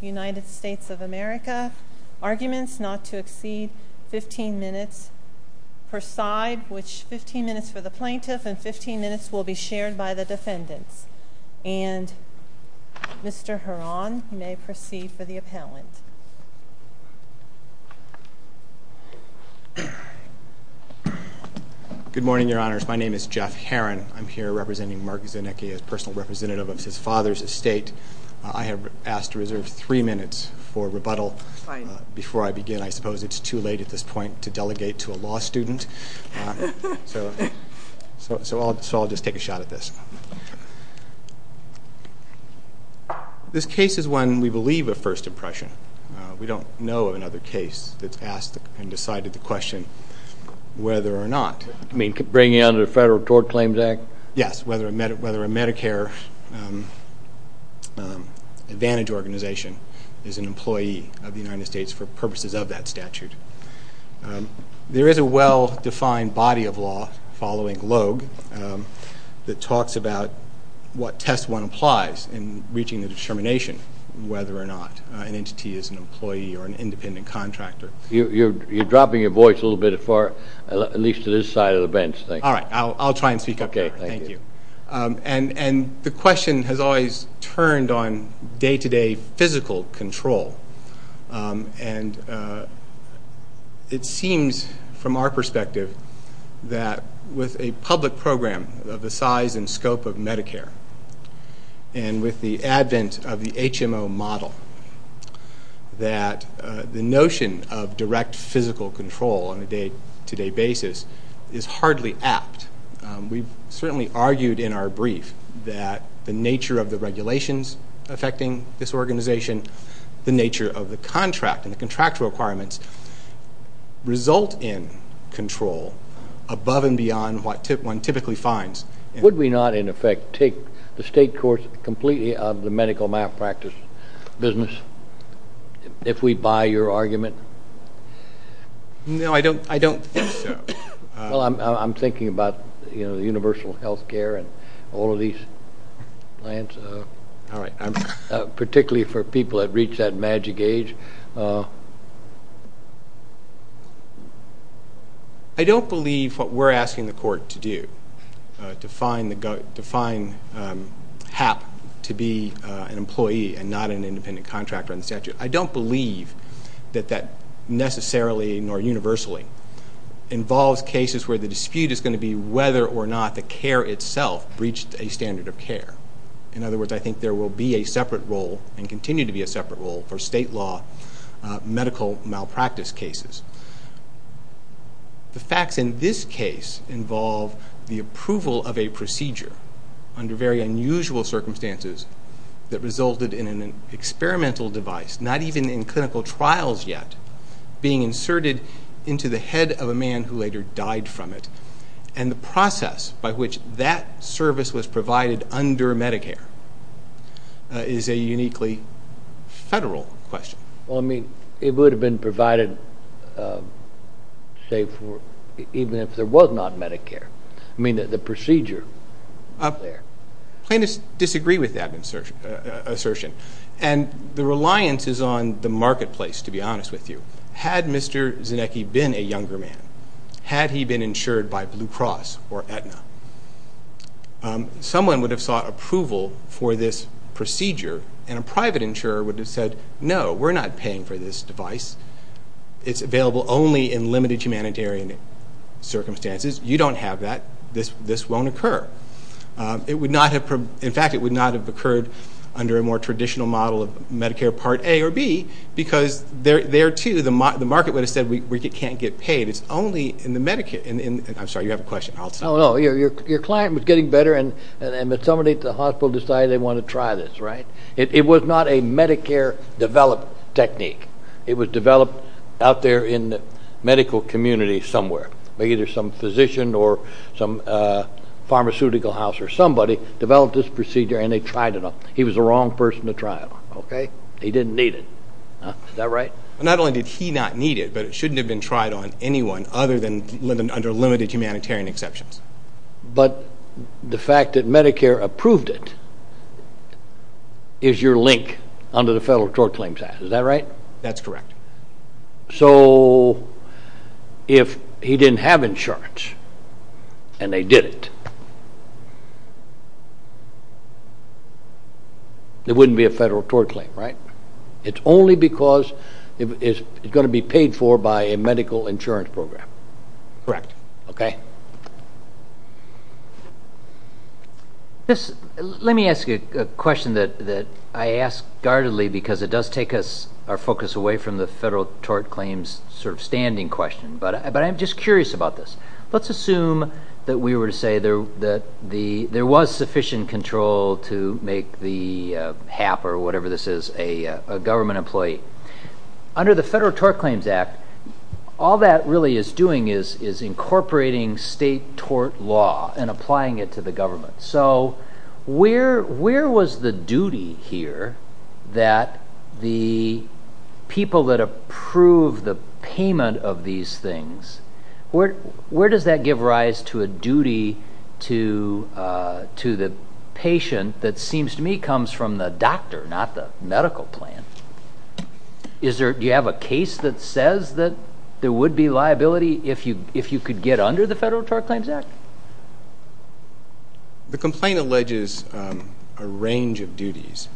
United States of America. Arguments not to exceed 15 minutes per side, which 15 minutes for the plaintiff and 15 minutes will be shared by the defendants. And Mr. Horan may proceed for the appellant. Good morning, Your Honors. My name is Jeff Horan. I'm here representing Mark Zanecki as personal representative of his father's estate. I have asked to reserve three minutes for rebuttal before I begin. I suppose it's too late at this point to delegate to a law student. So I'll just take a shot at this. This case is one we believe of first impression. We don't know of another case that's asked and decided the question whether or not. You mean bringing it under the Federal Tort Claims Act? Yes, whether a Medicare Advantage organization is an employee of the United States for purposes of that statute. There is a well-defined body of law following Logue that talks about what test one applies in reaching the determination whether or not an entity is an employee or an independent contractor. You're dropping your voice a little bit, at least to this side of the bench. All right. I'll try and speak up here. Thank you. And the question has always turned on day-to-day physical control. And it seems from our perspective that with a public program of the size and scope of Medicare and with the advent of the HMO model that the notion of direct physical control on a day-to-day basis is hardly apt. We've certainly argued in our brief that the nature of the regulations affecting this organization, the nature of the contract and the contractual requirements result in control above and beyond what one typically finds. Would we not, in effect, take the state courts completely out of the medical malpractice business if we buy your argument? No, I don't think so. Well, I'm thinking about the universal health care and all of these plans, particularly for people that reach that magic age. I don't believe what we're asking the court to do, to define HAP to be an employee and not an independent contractor in the statute. I don't believe that that necessarily nor universally involves cases where the dispute is going to be whether or not the care itself breached a standard of care. In other words, I think there will be a separate role and continue to be a separate role for state law medical malpractice cases. The facts in this case involve the approval of a procedure under very unusual circumstances that resulted in an experimental device, not even in clinical trials yet, being inserted into the head of a man who later died from it. And the process by which that service was provided under Medicare is a uniquely federal question. Well, I mean, it would have been provided, say, even if there was not Medicare. I mean, the procedure there. Plaintiffs disagree with that assertion. And the reliance is on the marketplace, to be honest with you. Had Mr. Zinnecke been a younger man, had he been insured by Blue Cross or Aetna, someone would have sought approval for this procedure, and a private insurer would have said, no, we're not paying for this device. It's available only in limited humanitarian circumstances. You don't have that. This won't occur. In fact, it would not have occurred under a more traditional model of Medicare Part A or B because there, too, the market would have said we can't get paid. It's only in the Medicare. I'm sorry, you have a question. No, no. Your client was getting better, and somebody at the hospital decided they wanted to try this, right? It was not a Medicare-developed technique. It was developed out there in the medical community somewhere. Either some physician or some pharmaceutical house or somebody developed this procedure, and they tried it on him. He was the wrong person to try it on. Okay. He didn't need it. Is that right? Not only did he not need it, but it shouldn't have been tried on anyone other than under limited humanitarian exceptions. But the fact that Medicare approved it is your link under the Federal Court Claims Act. Is that right? That's correct. So if he didn't have insurance and they did it, there wouldn't be a Federal Court Claim, right? It's only because it's going to be paid for by a medical insurance program. Correct. Okay. Let me ask you a question that I ask guardedly because it does take our focus away from the Federal Court Claims sort of standing question. But I'm just curious about this. Let's assume that we were to say that there was sufficient control to make the HAP, or whatever this is, a government employee. Under the Federal Court Claims Act, all that really is doing is incorporating state tort law and applying it to the government. So where was the duty here that the people that approve the payment of these things, where does that give rise to a duty to the patient that seems to me comes from the doctor, not the medical plan? Do you have a case that says that there would be liability if you could get under the Federal Court Claims Act? The complaint alleges a range of duties.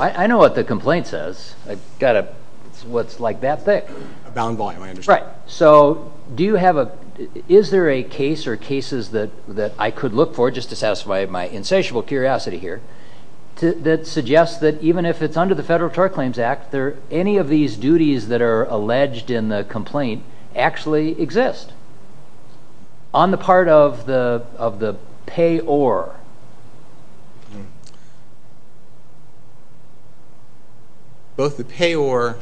I know what the complaint says. It's what's like that thick. A bound volume, I understand. Right. So is there a case or cases that I could look for, just to satisfy my insatiable curiosity here, that suggests that even if it's under the Federal Court Claims Act, any of these duties that are alleged in the complaint actually exist on the part of the payor? Both the payor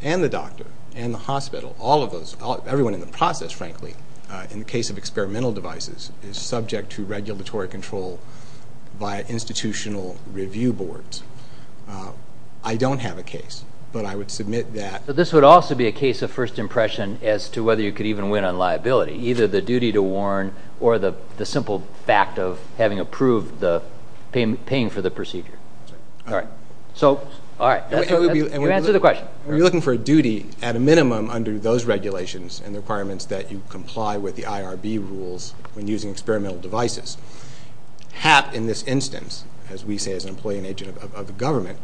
and the doctor and the hospital, all of those, everyone in the process, frankly, in the case of experimental devices is subject to regulatory control by institutional review boards. I don't have a case, but I would submit that. This would also be a case of first impression as to whether you could even win on liability, either the duty to warn or the simple fact of having approved the paying for the procedure. All right. So, all right. You answered the question. We're looking for a duty at a minimum under those regulations and the requirements that you comply with the IRB rules when using experimental devices. HAP in this instance, as we say as an employee and agent of the government,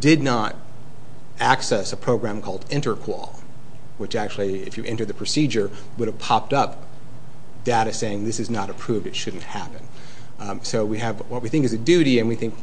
did not access a program called InterQual, which actually, if you enter the procedure, would have popped up data saying this is not approved. It shouldn't happen. So, we have what we think is a duty, and we think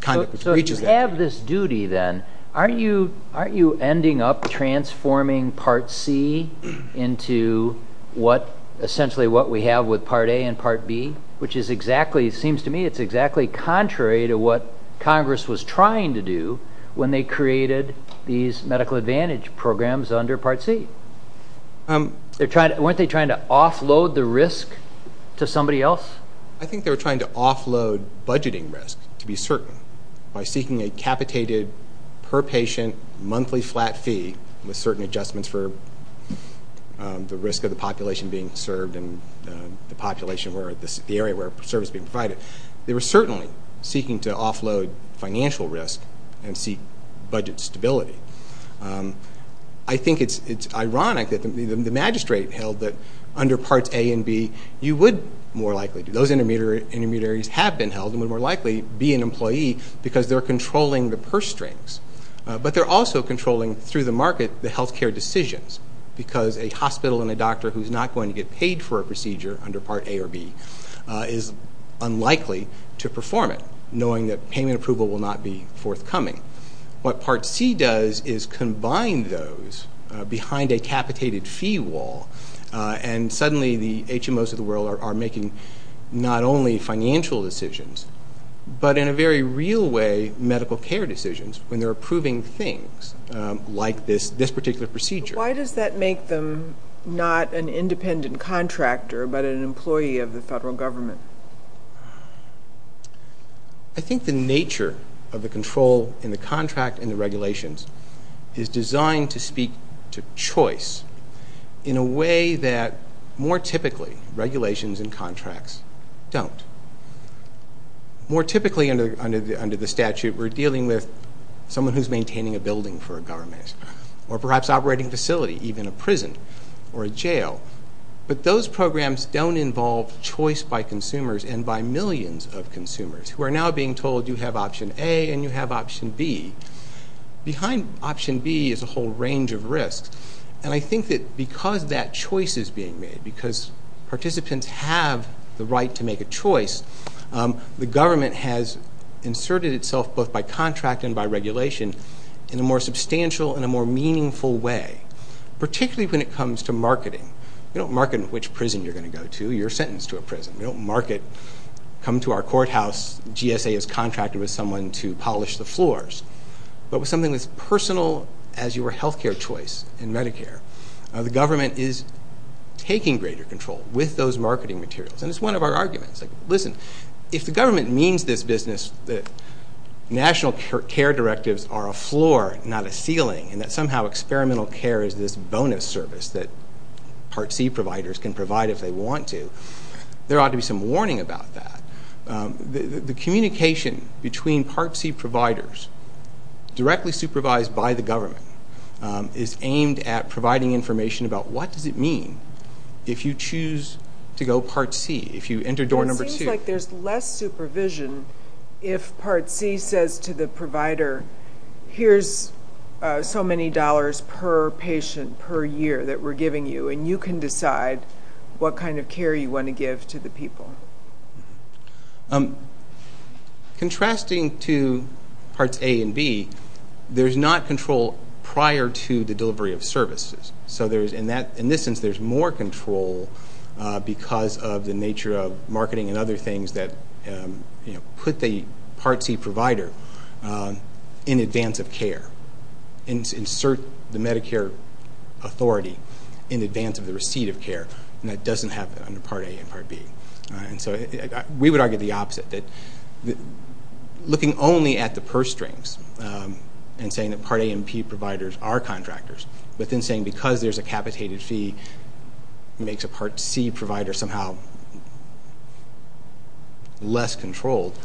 kind of reaches there. So, you have this duty then. Aren't you ending up transforming Part C into what essentially what we have with Part A and Part B, which is exactly, it seems to me, it's exactly contrary to what Congress was trying to do when they created these medical advantage programs under Part C? Weren't they trying to offload the risk to somebody else? I think they were trying to offload budgeting risk, to be certain, by seeking a capitated per patient monthly flat fee with certain adjustments for the risk of the population being served and the area where service is being provided. They were certainly seeking to offload financial risk and seek budget stability. I think it's ironic that the magistrate held that under Parts A and B, you would more likely, those intermediaries have been held and would more likely be an employee because they're controlling the purse strings. But they're also controlling, through the market, the health care decisions because a hospital and a doctor who's not going to get paid for a procedure under Part A or B is unlikely to perform it, knowing that payment approval will not be forthcoming. What Part C does is combine those behind a capitated fee wall, and suddenly the HMOs of the world are making not only financial decisions, but in a very real way medical care decisions when they're approving things like this particular procedure. Why does that make them not an independent contractor but an employee of the federal government? I think the nature of the control in the contract and the regulations is designed to speak to choice in a way that, more typically, regulations and contracts don't. More typically under the statute, we're dealing with someone who's maintaining a building for a government or perhaps operating facility, even a prison or a jail. But those programs don't involve choice by consumers and by millions of consumers who are now being told you have Option A and you have Option B. Behind Option B is a whole range of risks, and I think that because that choice is being made, because participants have the right to make a choice, the government has inserted itself both by contract and by regulation in a more substantial and a more meaningful way, particularly when it comes to marketing. You don't market which prison you're going to go to. You're sentenced to a prison. You don't market, come to our courthouse, GSA has contracted with someone to polish the floors. But with something as personal as your health care choice in Medicare, the government is taking greater control with those marketing materials, and it's one of our arguments. Listen, if the government means this business that national care directives are a floor, not a ceiling, and that somehow experimental care is this bonus service that Part C providers can provide if they want to, there ought to be some warning about that. The communication between Part C providers directly supervised by the government is aimed at providing information about what does it mean if you choose to go Part C, if you enter door number two. It seems like there's less supervision if Part C says to the provider, here's so many dollars per patient per year that we're giving you, and you can decide what kind of care you want to give to the people. Contrasting to Parts A and B, there's not control prior to the delivery of services. In this sense, there's more control because of the nature of marketing and other things that put the Part C provider in advance of care and insert the Medicare authority in advance of the receipt of care, and that doesn't happen under Part A and Part B. We would argue the opposite, looking only at the purse strings and saying that Part A and P providers are contractors, but then saying because there's a capitated fee makes a Part C provider somehow less controlled.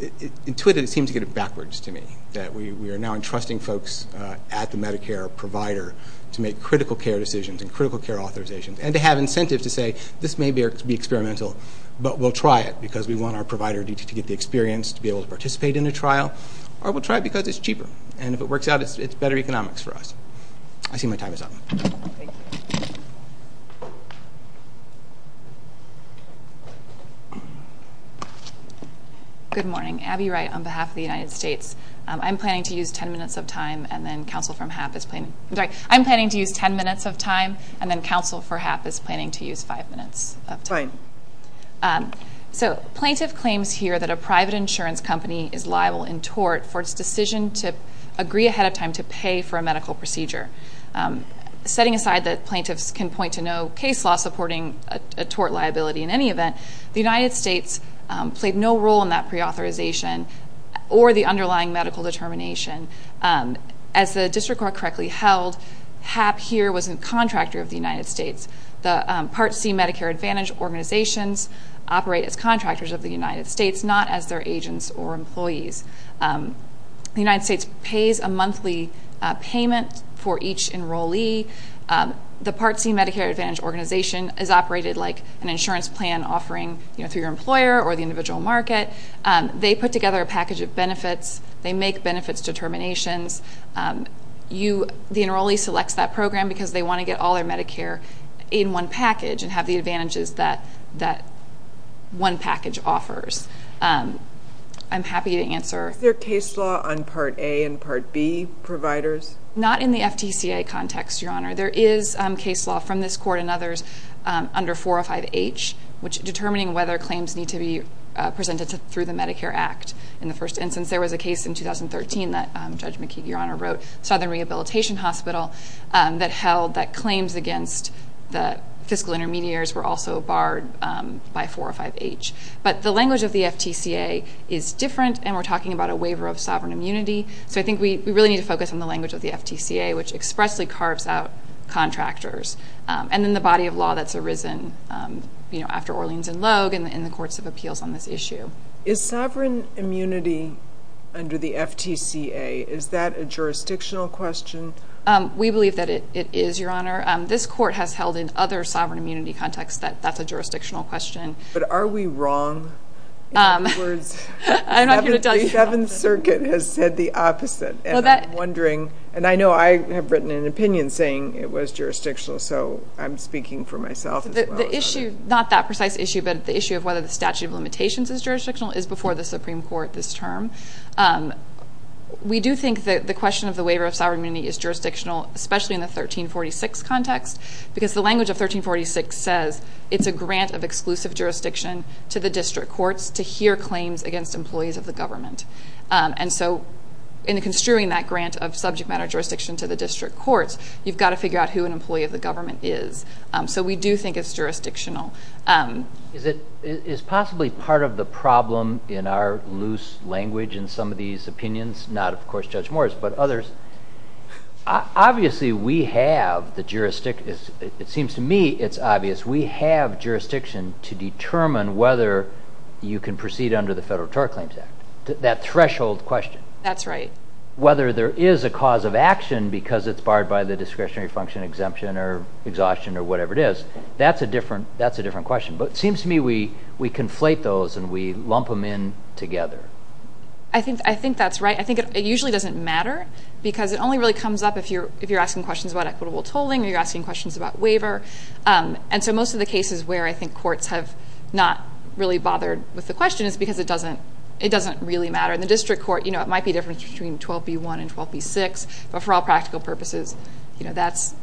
It seems to get it backwards to me that we are now entrusting folks at the Medicare provider to make critical care decisions and critical care authorizations and to have incentives to say this may be experimental, but we'll try it because we want our provider to get the experience to be able to participate in a trial, or we'll try it because it's cheaper, and if it works out, it's better economics for us. I see my time is up. Good morning. Abby Wright on behalf of the United States. I'm planning to use 10 minutes of time, and then counsel for HAP is planning to use 5 minutes of time. Plaintiff claims here that a private insurance company is liable in tort for its decision to agree ahead of time to pay for a medical procedure. Setting aside that plaintiffs can point to no case law supporting a tort liability in any event, the United States played no role in that preauthorization or the underlying medical determination. As the district court correctly held, HAP here was a contractor of the United States. The Part C Medicare Advantage organizations operate as contractors of the United States, not as their agents or employees. The United States pays a monthly payment for each enrollee. The Part C Medicare Advantage organization is operated like an insurance plan offering through your employer or the individual market. They put together a package of benefits. They make benefits determinations. The enrollee selects that program because they want to get all their Medicare in one package and have the advantages that one package offers. I'm happy to answer. Is there case law on Part A and Part B providers? Not in the FTCA context, Your Honor. There is case law from this court and others under 405H, determining whether claims need to be presented through the Medicare Act. In the first instance, there was a case in 2013 that Judge McKeague, Your Honor, wrote, Southern Rehabilitation Hospital, that held that claims against the fiscal intermediaries were also barred by 405H. But the language of the FTCA is different, and we're talking about a waiver of sovereign immunity. So I think we really need to focus on the language of the FTCA, which expressly carves out contractors, and then the body of law that's arisen after Orleans and Logue and the courts of appeals on this issue. Is sovereign immunity under the FTCA, is that a jurisdictional question? We believe that it is, Your Honor. This court has held in other sovereign immunity contexts that that's a jurisdictional question. But are we wrong? In other words, the Seventh Circuit has said the opposite. And I'm wondering, and I know I have written an opinion saying it was jurisdictional, so I'm speaking for myself as well. The issue, not that precise issue, but the issue of whether the statute of limitations is jurisdictional, is before the Supreme Court this term. We do think that the question of the waiver of sovereign immunity is jurisdictional, especially in the 1346 context, because the language of 1346 says it's a grant of exclusive jurisdiction to the district courts to hear claims against employees of the government. And so in construing that grant of subject matter jurisdiction to the district courts, you've got to figure out who an employee of the government is. So we do think it's jurisdictional. Is it possibly part of the problem in our loose language in some of these opinions, not, of course, Judge Morris, but others, obviously we have the jurisdiction, it seems to me it's obvious, we have jurisdiction to determine whether you can proceed under the Federal Tort Claims Act, that threshold question. That's right. Whether there is a cause of action because it's barred by the discretionary function exemption or exhaustion or whatever it is, that's a different question. But it seems to me we conflate those and we lump them in together. I think that's right. I think it usually doesn't matter because it only really comes up if you're asking questions about equitable tolling or you're asking questions about waiver. And so most of the cases where I think courts have not really bothered with the question is because it doesn't really matter. In the district court, you know, it might be a difference between 12b1 and 12b6, but for all practical purposes, you know, that's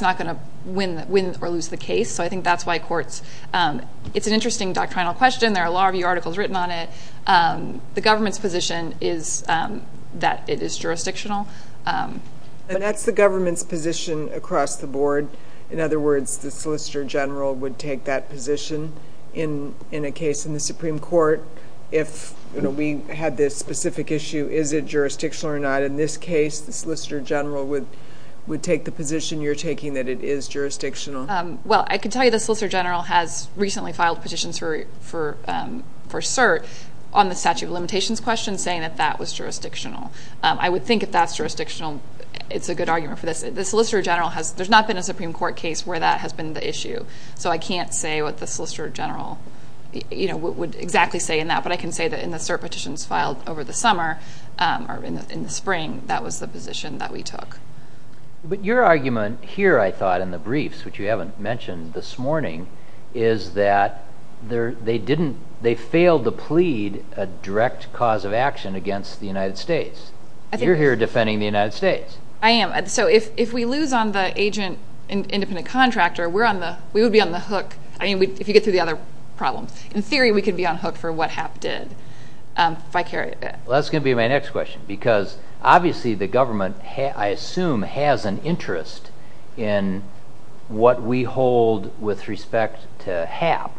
not going to win or lose the case. So I think that's why courts, it's an interesting doctrinal question. There are a lot of articles written on it. The government's position is that it is jurisdictional. And that's the government's position across the board. In other words, the Solicitor General would take that position in a case in the Supreme Court. If, you know, we had this specific issue, is it jurisdictional or not? In this case, the Solicitor General would take the position you're taking that it is jurisdictional? Well, I can tell you the Solicitor General has recently filed petitions for CERT on the statute of limitations question saying that that was jurisdictional. I would think if that's jurisdictional, it's a good argument for this. The Solicitor General has, there's not been a Supreme Court case where that has been the issue. So I can't say what the Solicitor General, you know, would exactly say in that. But I can say that in the CERT petitions filed over the summer or in the spring, that was the position that we took. But your argument here, I thought, in the briefs, which you haven't mentioned this morning, is that they didn't, they failed to plead a direct cause of action against the United States. You're here defending the United States. I am. So if we lose on the agent independent contractor, we're on the, we would be on the hook. I mean, if you get through the other problems. In theory, we could be on hook for what HAP did. If I carry it back. Well, that's going to be my next question. Because obviously the government, I assume, has an interest in what we hold with respect to HAP.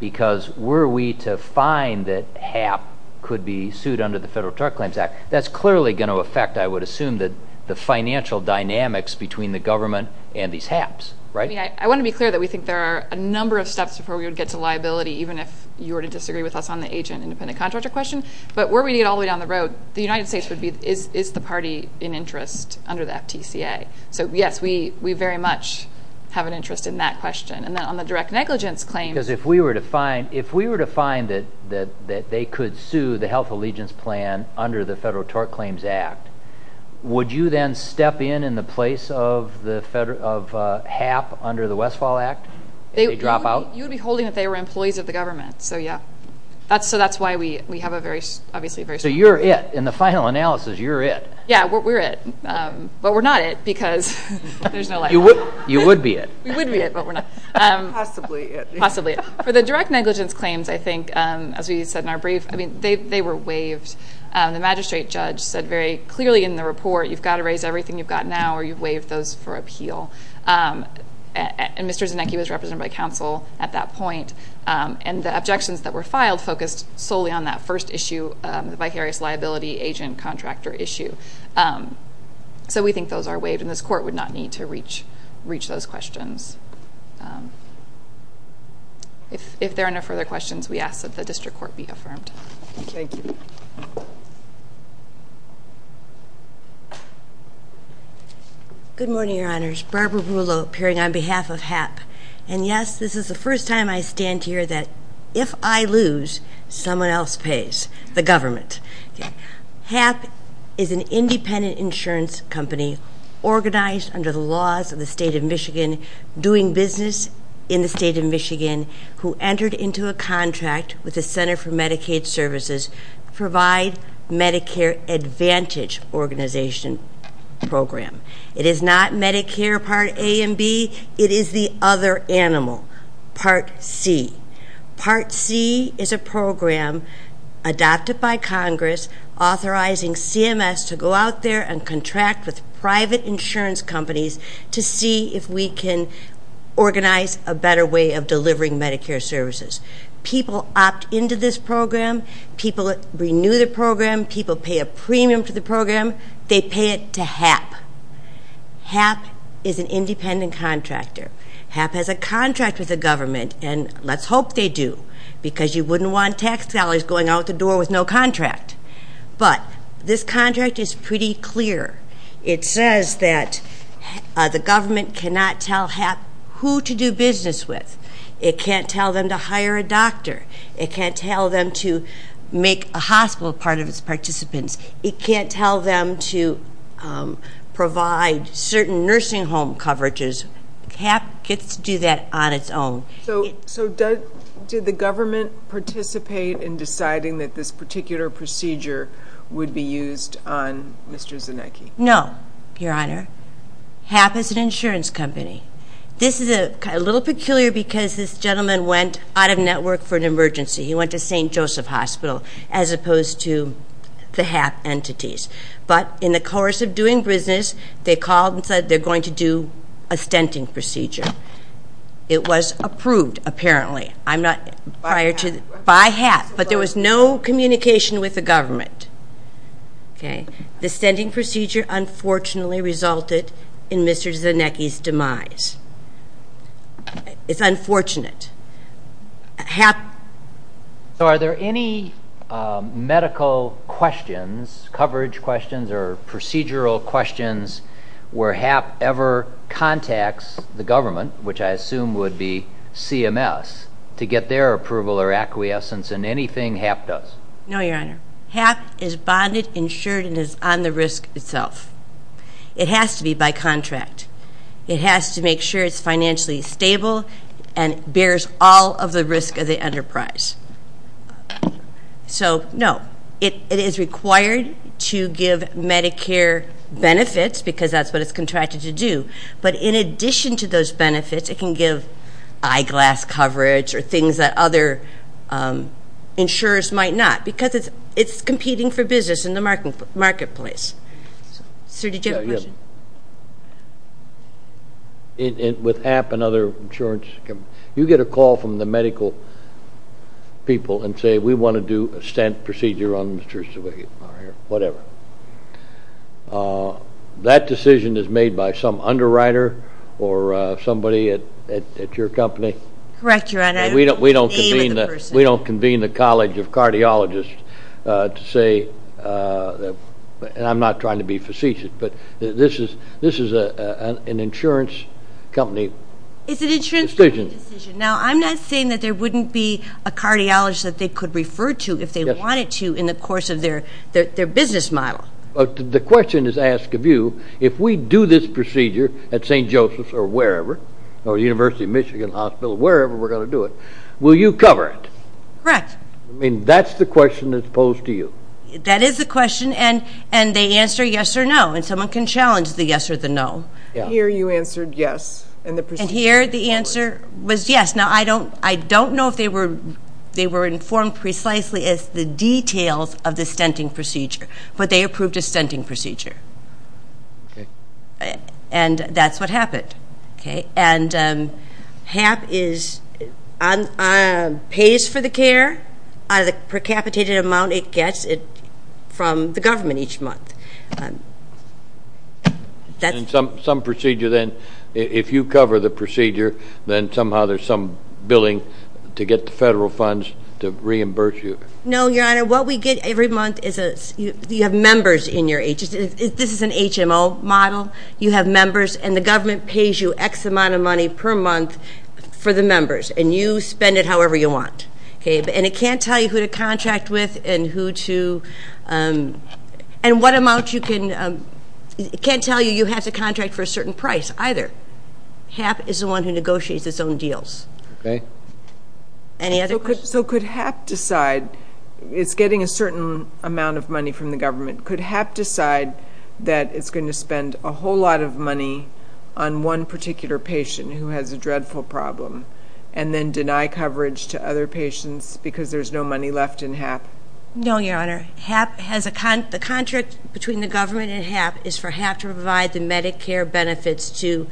Because were we to find that HAP could be sued under the Federal Drug Claims Act, that's clearly going to affect, I would assume, the financial dynamics between the government and these HAPs, right? I mean, I want to be clear that we think there are a number of steps before we would get to liability, even if you were to disagree with us on the agent independent contractor question. But were we to get all the way down the road, the United States is the party in interest under the FTCA. So, yes, we very much have an interest in that question. And then on the direct negligence claim. Because if we were to find that they could sue the Health Allegiance Plan under the Federal Tort Claims Act, would you then step in in the place of HAP under the Westfall Act? You would be holding that they were employees of the government. So, yeah. So that's why we have a very, obviously, a very strong interest. So you're it. In the final analysis, you're it. Yeah, we're it. But we're not it because there's no liability. You would be it. We would be it, but we're not. Possibly it. Possibly it. For the direct negligence claims, I think, as we said in our brief, I mean, they were waived. The magistrate judge said very clearly in the report, you've got to raise everything you've got now or you've waived those for appeal. And Mr. Zanetti was represented by counsel at that point. And the objections that were filed focused solely on that first issue, the vicarious liability agent-contractor issue. So we think those are waived, and this court would not need to reach those questions. If there are no further questions, we ask that the district court be affirmed. Thank you. Thank you. Good morning, Your Honors. Barbara Rulo appearing on behalf of HAP. And, yes, this is the first time I stand here that if I lose, someone else pays, the government. HAP is an independent insurance company organized under the laws of the state of Michigan, doing business in the state of Michigan, who entered into a contract with the Center for Medicaid Services to provide Medicare Advantage organization program. It is not Medicare Part A and B. It is the other animal, Part C. Part C is a program adopted by Congress, authorizing CMS to go out there and contract with private insurance companies to see if we can organize a better way of delivering Medicare services. People opt into this program. People renew the program. People pay a premium to the program. They pay it to HAP. HAP is an independent contractor. HAP has a contract with the government, and let's hope they do, because you wouldn't want tax dollars going out the door with no contract. But this contract is pretty clear. It says that the government cannot tell HAP who to do business with. It can't tell them to hire a doctor. It can't tell them to make a hospital part of its participants. It can't tell them to provide certain nursing home coverages. HAP gets to do that on its own. So did the government participate in deciding that this particular procedure would be used on Mr. Zinnecke? No, Your Honor. HAP is an insurance company. This is a little peculiar because this gentleman went out of network for an emergency. He went to St. Joseph Hospital as opposed to the HAP entities. But in the course of doing business, they called and said they're going to do a stenting procedure. It was approved, apparently, by HAP, but there was no communication with the government. The stenting procedure unfortunately resulted in Mr. Zinnecke's demise. It's unfortunate. So are there any medical questions, coverage questions, or procedural questions where HAP ever contacts the government, which I assume would be CMS, to get their approval or acquiescence in anything HAP does? No, Your Honor. HAP is bonded, insured, and is on the risk itself. It has to be by contract. It has to make sure it's financially stable and bears all of the risk of the enterprise. So, no, it is required to give Medicare benefits because that's what it's contracted to do. But in addition to those benefits, it can give eyeglass coverage or things that other insurers might not because it's competing for business in the marketplace. Sir, did you have a question? With HAP and other insurance companies, you get a call from the medical people and say we want to do a stent procedure on Mr. Zinnecke or whatever. That decision is made by some underwriter or somebody at your company? Correct, Your Honor. We don't convene the College of Cardiologists to say, and I'm not trying to be facetious, but this is an insurance company decision. Now, I'm not saying that there wouldn't be a cardiologist that they could refer to if they wanted to in the course of their business model. The question is asked of you, if we do this procedure at St. Joseph's or wherever, or University of Michigan Hospital, wherever we're going to do it, will you cover it? Correct. I mean, that's the question that's posed to you. That is the question, and they answer yes or no, and someone can challenge the yes or the no. Here you answered yes. And here the answer was yes. Now, I don't know if they were informed precisely as to the details of the stenting procedure, but they approved a stenting procedure. Okay. And that's what happened. Okay? And HAP pays for the care out of the precapitated amount it gets from the government each month. Some procedure then, if you cover the procedure, then somehow there's some billing to get the federal funds to reimburse you. No, Your Honor. What we get every month is you have members in your agency. This is an HMO model. You have members, and the government pays you X amount of money per month for the members, and you spend it however you want. And it can't tell you who to contract with and who to – and what amount you can – it can't tell you you have to contract for a certain price either. HAP is the one who negotiates its own deals. Okay. Any other questions? So could HAP decide – it's getting a certain amount of money from the government. Could HAP decide that it's going to spend a whole lot of money on one particular patient who has a dreadful problem and then deny coverage to other patients because there's no money left in HAP? No, Your Honor. The contract between the government and HAP is for HAP to provide the Medicare benefits to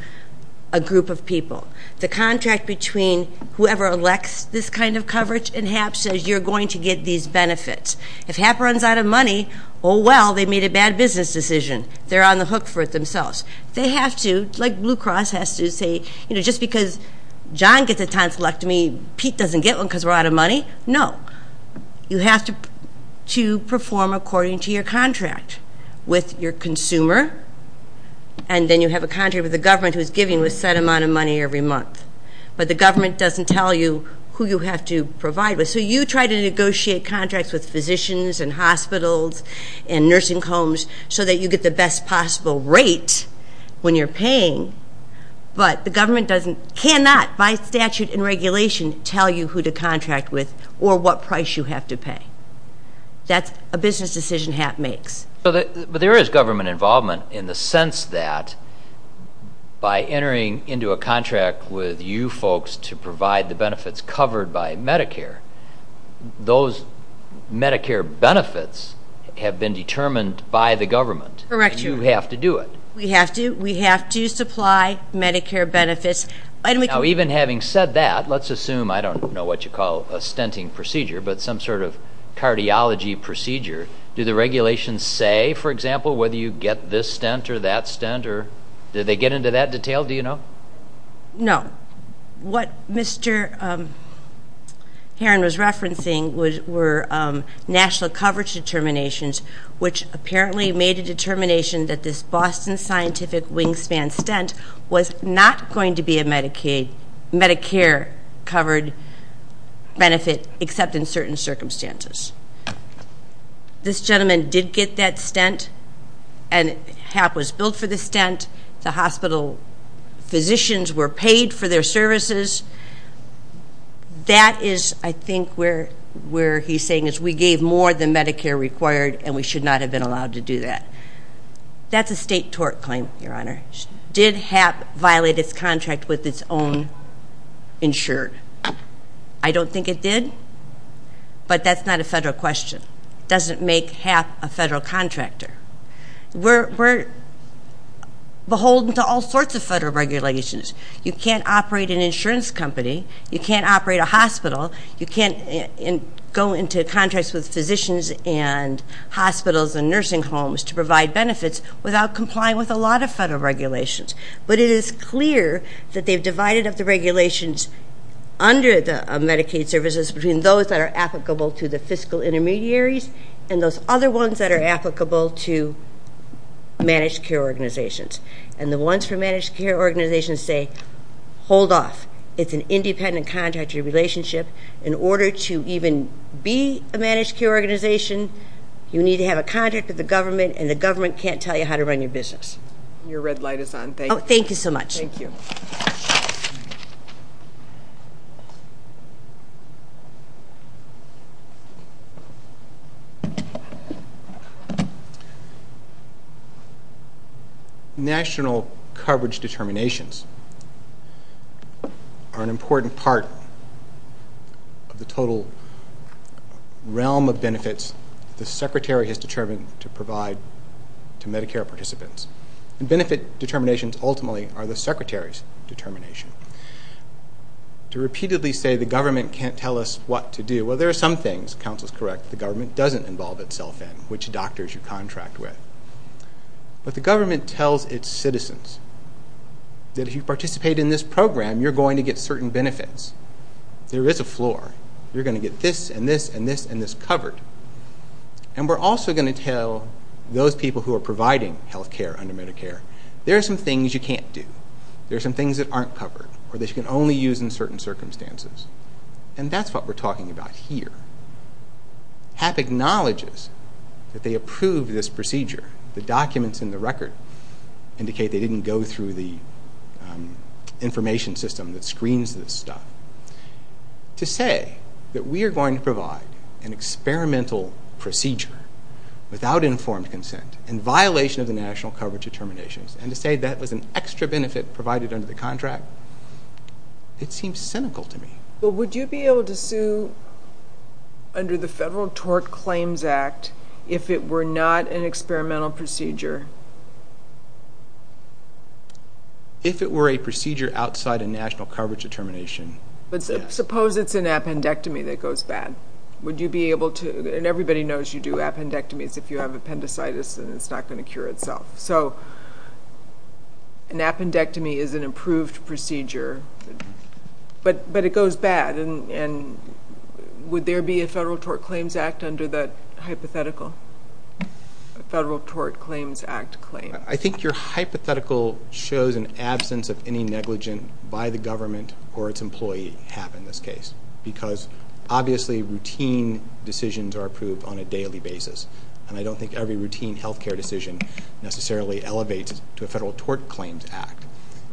a group of people. The contract between whoever elects this kind of coverage and HAP says you're going to get these benefits. If HAP runs out of money, oh, well, they made a bad business decision. They're on the hook for it themselves. They have to, like Blue Cross has to say, you know, just because John gets a tonsillectomy, Pete doesn't get one because we're out of money. No. You have to perform according to your contract with your consumer, and then you have a contract with the government who's giving you a set amount of money every month. But the government doesn't tell you who you have to provide with. So you try to negotiate contracts with physicians and hospitals and nursing homes so that you get the best possible rate when you're paying, but the government cannot by statute and regulation tell you who to contract with or what price you have to pay. That's a business decision HAP makes. But there is government involvement in the sense that by entering into a contract with you folks to provide the benefits covered by Medicare, those Medicare benefits have been determined by the government. Correct. And you have to do it. We have to. We have to supply Medicare benefits. Now, even having said that, let's assume, I don't know what you call a stenting procedure, but some sort of cardiology procedure. Do the regulations say, for example, whether you get this stent or that stent? Do they get into that detail? Do you know? No. What Mr. Heron was referencing were national coverage determinations, which apparently made a determination that this Boston Scientific Wingspan Stent was not going to be a Medicare-covered benefit except in certain circumstances. This gentleman did get that stent, and HAP was billed for the stent. The hospital physicians were paid for their services. That is, I think, where he's saying is we gave more than Medicare required, and we should not have been allowed to do that. That's a state tort claim, Your Honor. Did HAP violate its contract with its own insured? I don't think it did, but that's not a federal question. It doesn't make HAP a federal contractor. We're beholden to all sorts of federal regulations. You can't operate an insurance company. You can't operate a hospital. You can't go into contracts with physicians and hospitals and nursing homes to provide benefits without complying with a lot of federal regulations. But it is clear that they've divided up the regulations under Medicaid services between those that are applicable to the fiscal intermediaries and those other ones that are applicable to managed care organizations. And the ones for managed care organizations say, hold off. It's an independent contractor relationship. In order to even be a managed care organization, you need to have a contract with the government, and the government can't tell you how to run your business. Your red light is on. Thank you. Thank you so much. Thank you. Thank you. National coverage determinations are an important part of the total realm of benefits the Secretary has determined to provide to Medicare participants. And benefit determinations ultimately are the Secretary's determination. To repeatedly say the government can't tell us what to do, well, there are some things, counsel is correct, the government doesn't involve itself in, which doctors you contract with. But the government tells its citizens that if you participate in this program, you're going to get certain benefits. There is a floor. You're going to get this and this and this and this covered. And we're also going to tell those people who are providing health care under Medicare, there are some things you can't do. There are some things that aren't covered or that you can only use in certain circumstances. And that's what we're talking about here. HAP acknowledges that they approve this procedure. The documents in the record indicate they didn't go through the information system that screens this stuff. To say that we are going to provide an experimental procedure without informed consent in violation of the national coverage determinations, and to say that was an extra benefit provided under the contract, it seems cynical to me. But would you be able to sue under the Federal Tort Claims Act if it were not an experimental procedure? If it were a procedure outside a national coverage determination. But suppose it's an appendectomy that goes bad. Would you be able to, and everybody knows you do appendectomies if you have appendicitis and it's not going to cure itself. So an appendectomy is an approved procedure, but it goes bad. And would there be a Federal Tort Claims Act under that hypothetical? A Federal Tort Claims Act claim. I think your hypothetical shows an absence of any negligent by the government or its employee, HAP in this case, because obviously routine decisions are approved on a daily basis. And I don't think every routine health care decision necessarily elevates to a Federal Tort Claims Act.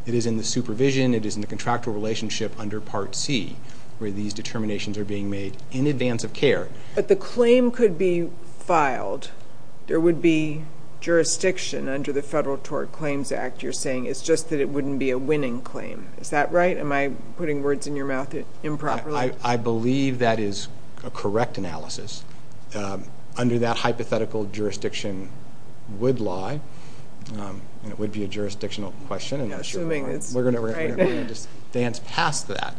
It is in the supervision, it is in the contractual relationship under Part C where these determinations are being made in advance of care. But the claim could be filed. There would be jurisdiction under the Federal Tort Claims Act. You're saying it's just that it wouldn't be a winning claim. Is that right? Am I putting words in your mouth improperly? I believe that is a correct analysis. Under that hypothetical, jurisdiction would lie, and it would be a jurisdictional question. We're going to just dance past that.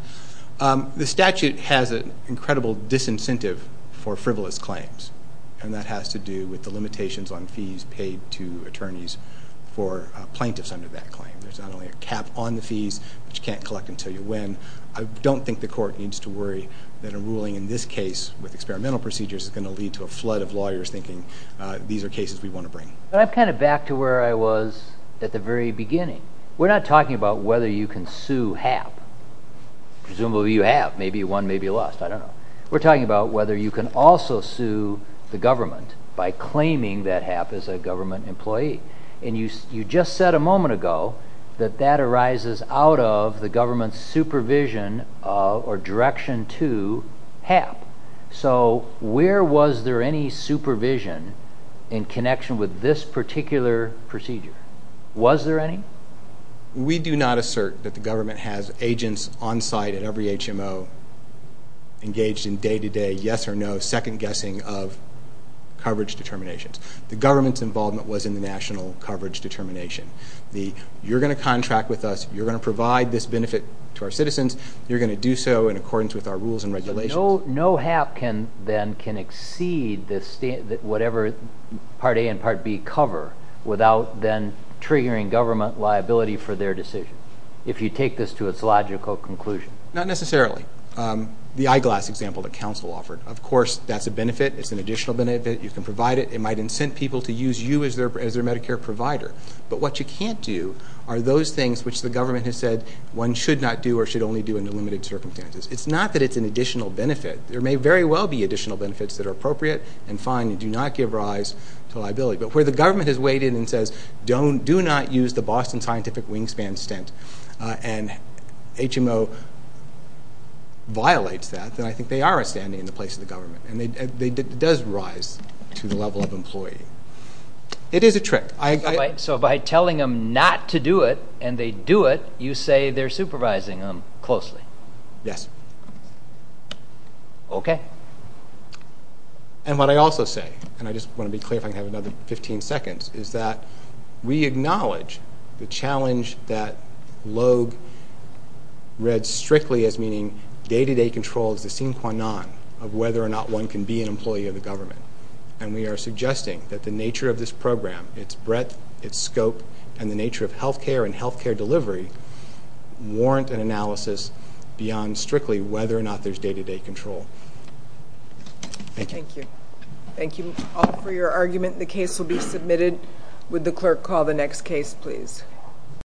The statute has an incredible disincentive for frivolous claims, and that has to do with the limitations on fees paid to attorneys for plaintiffs under that claim. There's not only a cap on the fees, but you can't collect until you win. I don't think the court needs to worry that a ruling in this case with experimental procedures is going to lead to a flood of lawyers thinking these are cases we want to bring. I'm kind of back to where I was at the very beginning. We're not talking about whether you can sue HAP. Presumably you have. Maybe you won, maybe you lost. I don't know. We're talking about whether you can also sue the government by claiming that HAP is a government employee. And you just said a moment ago that that arises out of the government's supervision or direction to HAP. So where was there any supervision in connection with this particular procedure? Was there any? We do not assert that the government has agents on site at every HMO engaged in day-to-day, yes or no, second-guessing of coverage determinations. The government's involvement was in the national coverage determination. You're going to contract with us. You're going to provide this benefit to our citizens. So no HAP can then exceed whatever Part A and Part B cover without then triggering government liability for their decision, if you take this to its logical conclusion? Not necessarily. The eyeglass example that counsel offered, of course, that's a benefit. It's an additional benefit. You can provide it. It might incent people to use you as their Medicare provider. But what you can't do are those things which the government has said one should not do or should only do under limited circumstances. It's not that it's an additional benefit. There may very well be additional benefits that are appropriate and fine and do not give rise to liability. But where the government has weighed in and says, do not use the Boston Scientific Wingspan stint and HMO violates that, then I think they are a stand-in in the place of the government. And it does rise to the level of employee. It is a trick. So by telling them not to do it and they do it, you say they're supervising them closely? Yes. Okay. And what I also say, and I just want to be clear if I can have another 15 seconds, is that we acknowledge the challenge that Logue read strictly as meaning day-to-day control is the sine qua non of whether or not one can be an employee of the government. And we are suggesting that the nature of this program, its breadth, its scope, and the nature of health care and health care delivery warrant an analysis beyond strictly whether or not there's day-to-day control. Thank you. Thank you all for your argument. The case will be submitted. Would the clerk call the next case, please?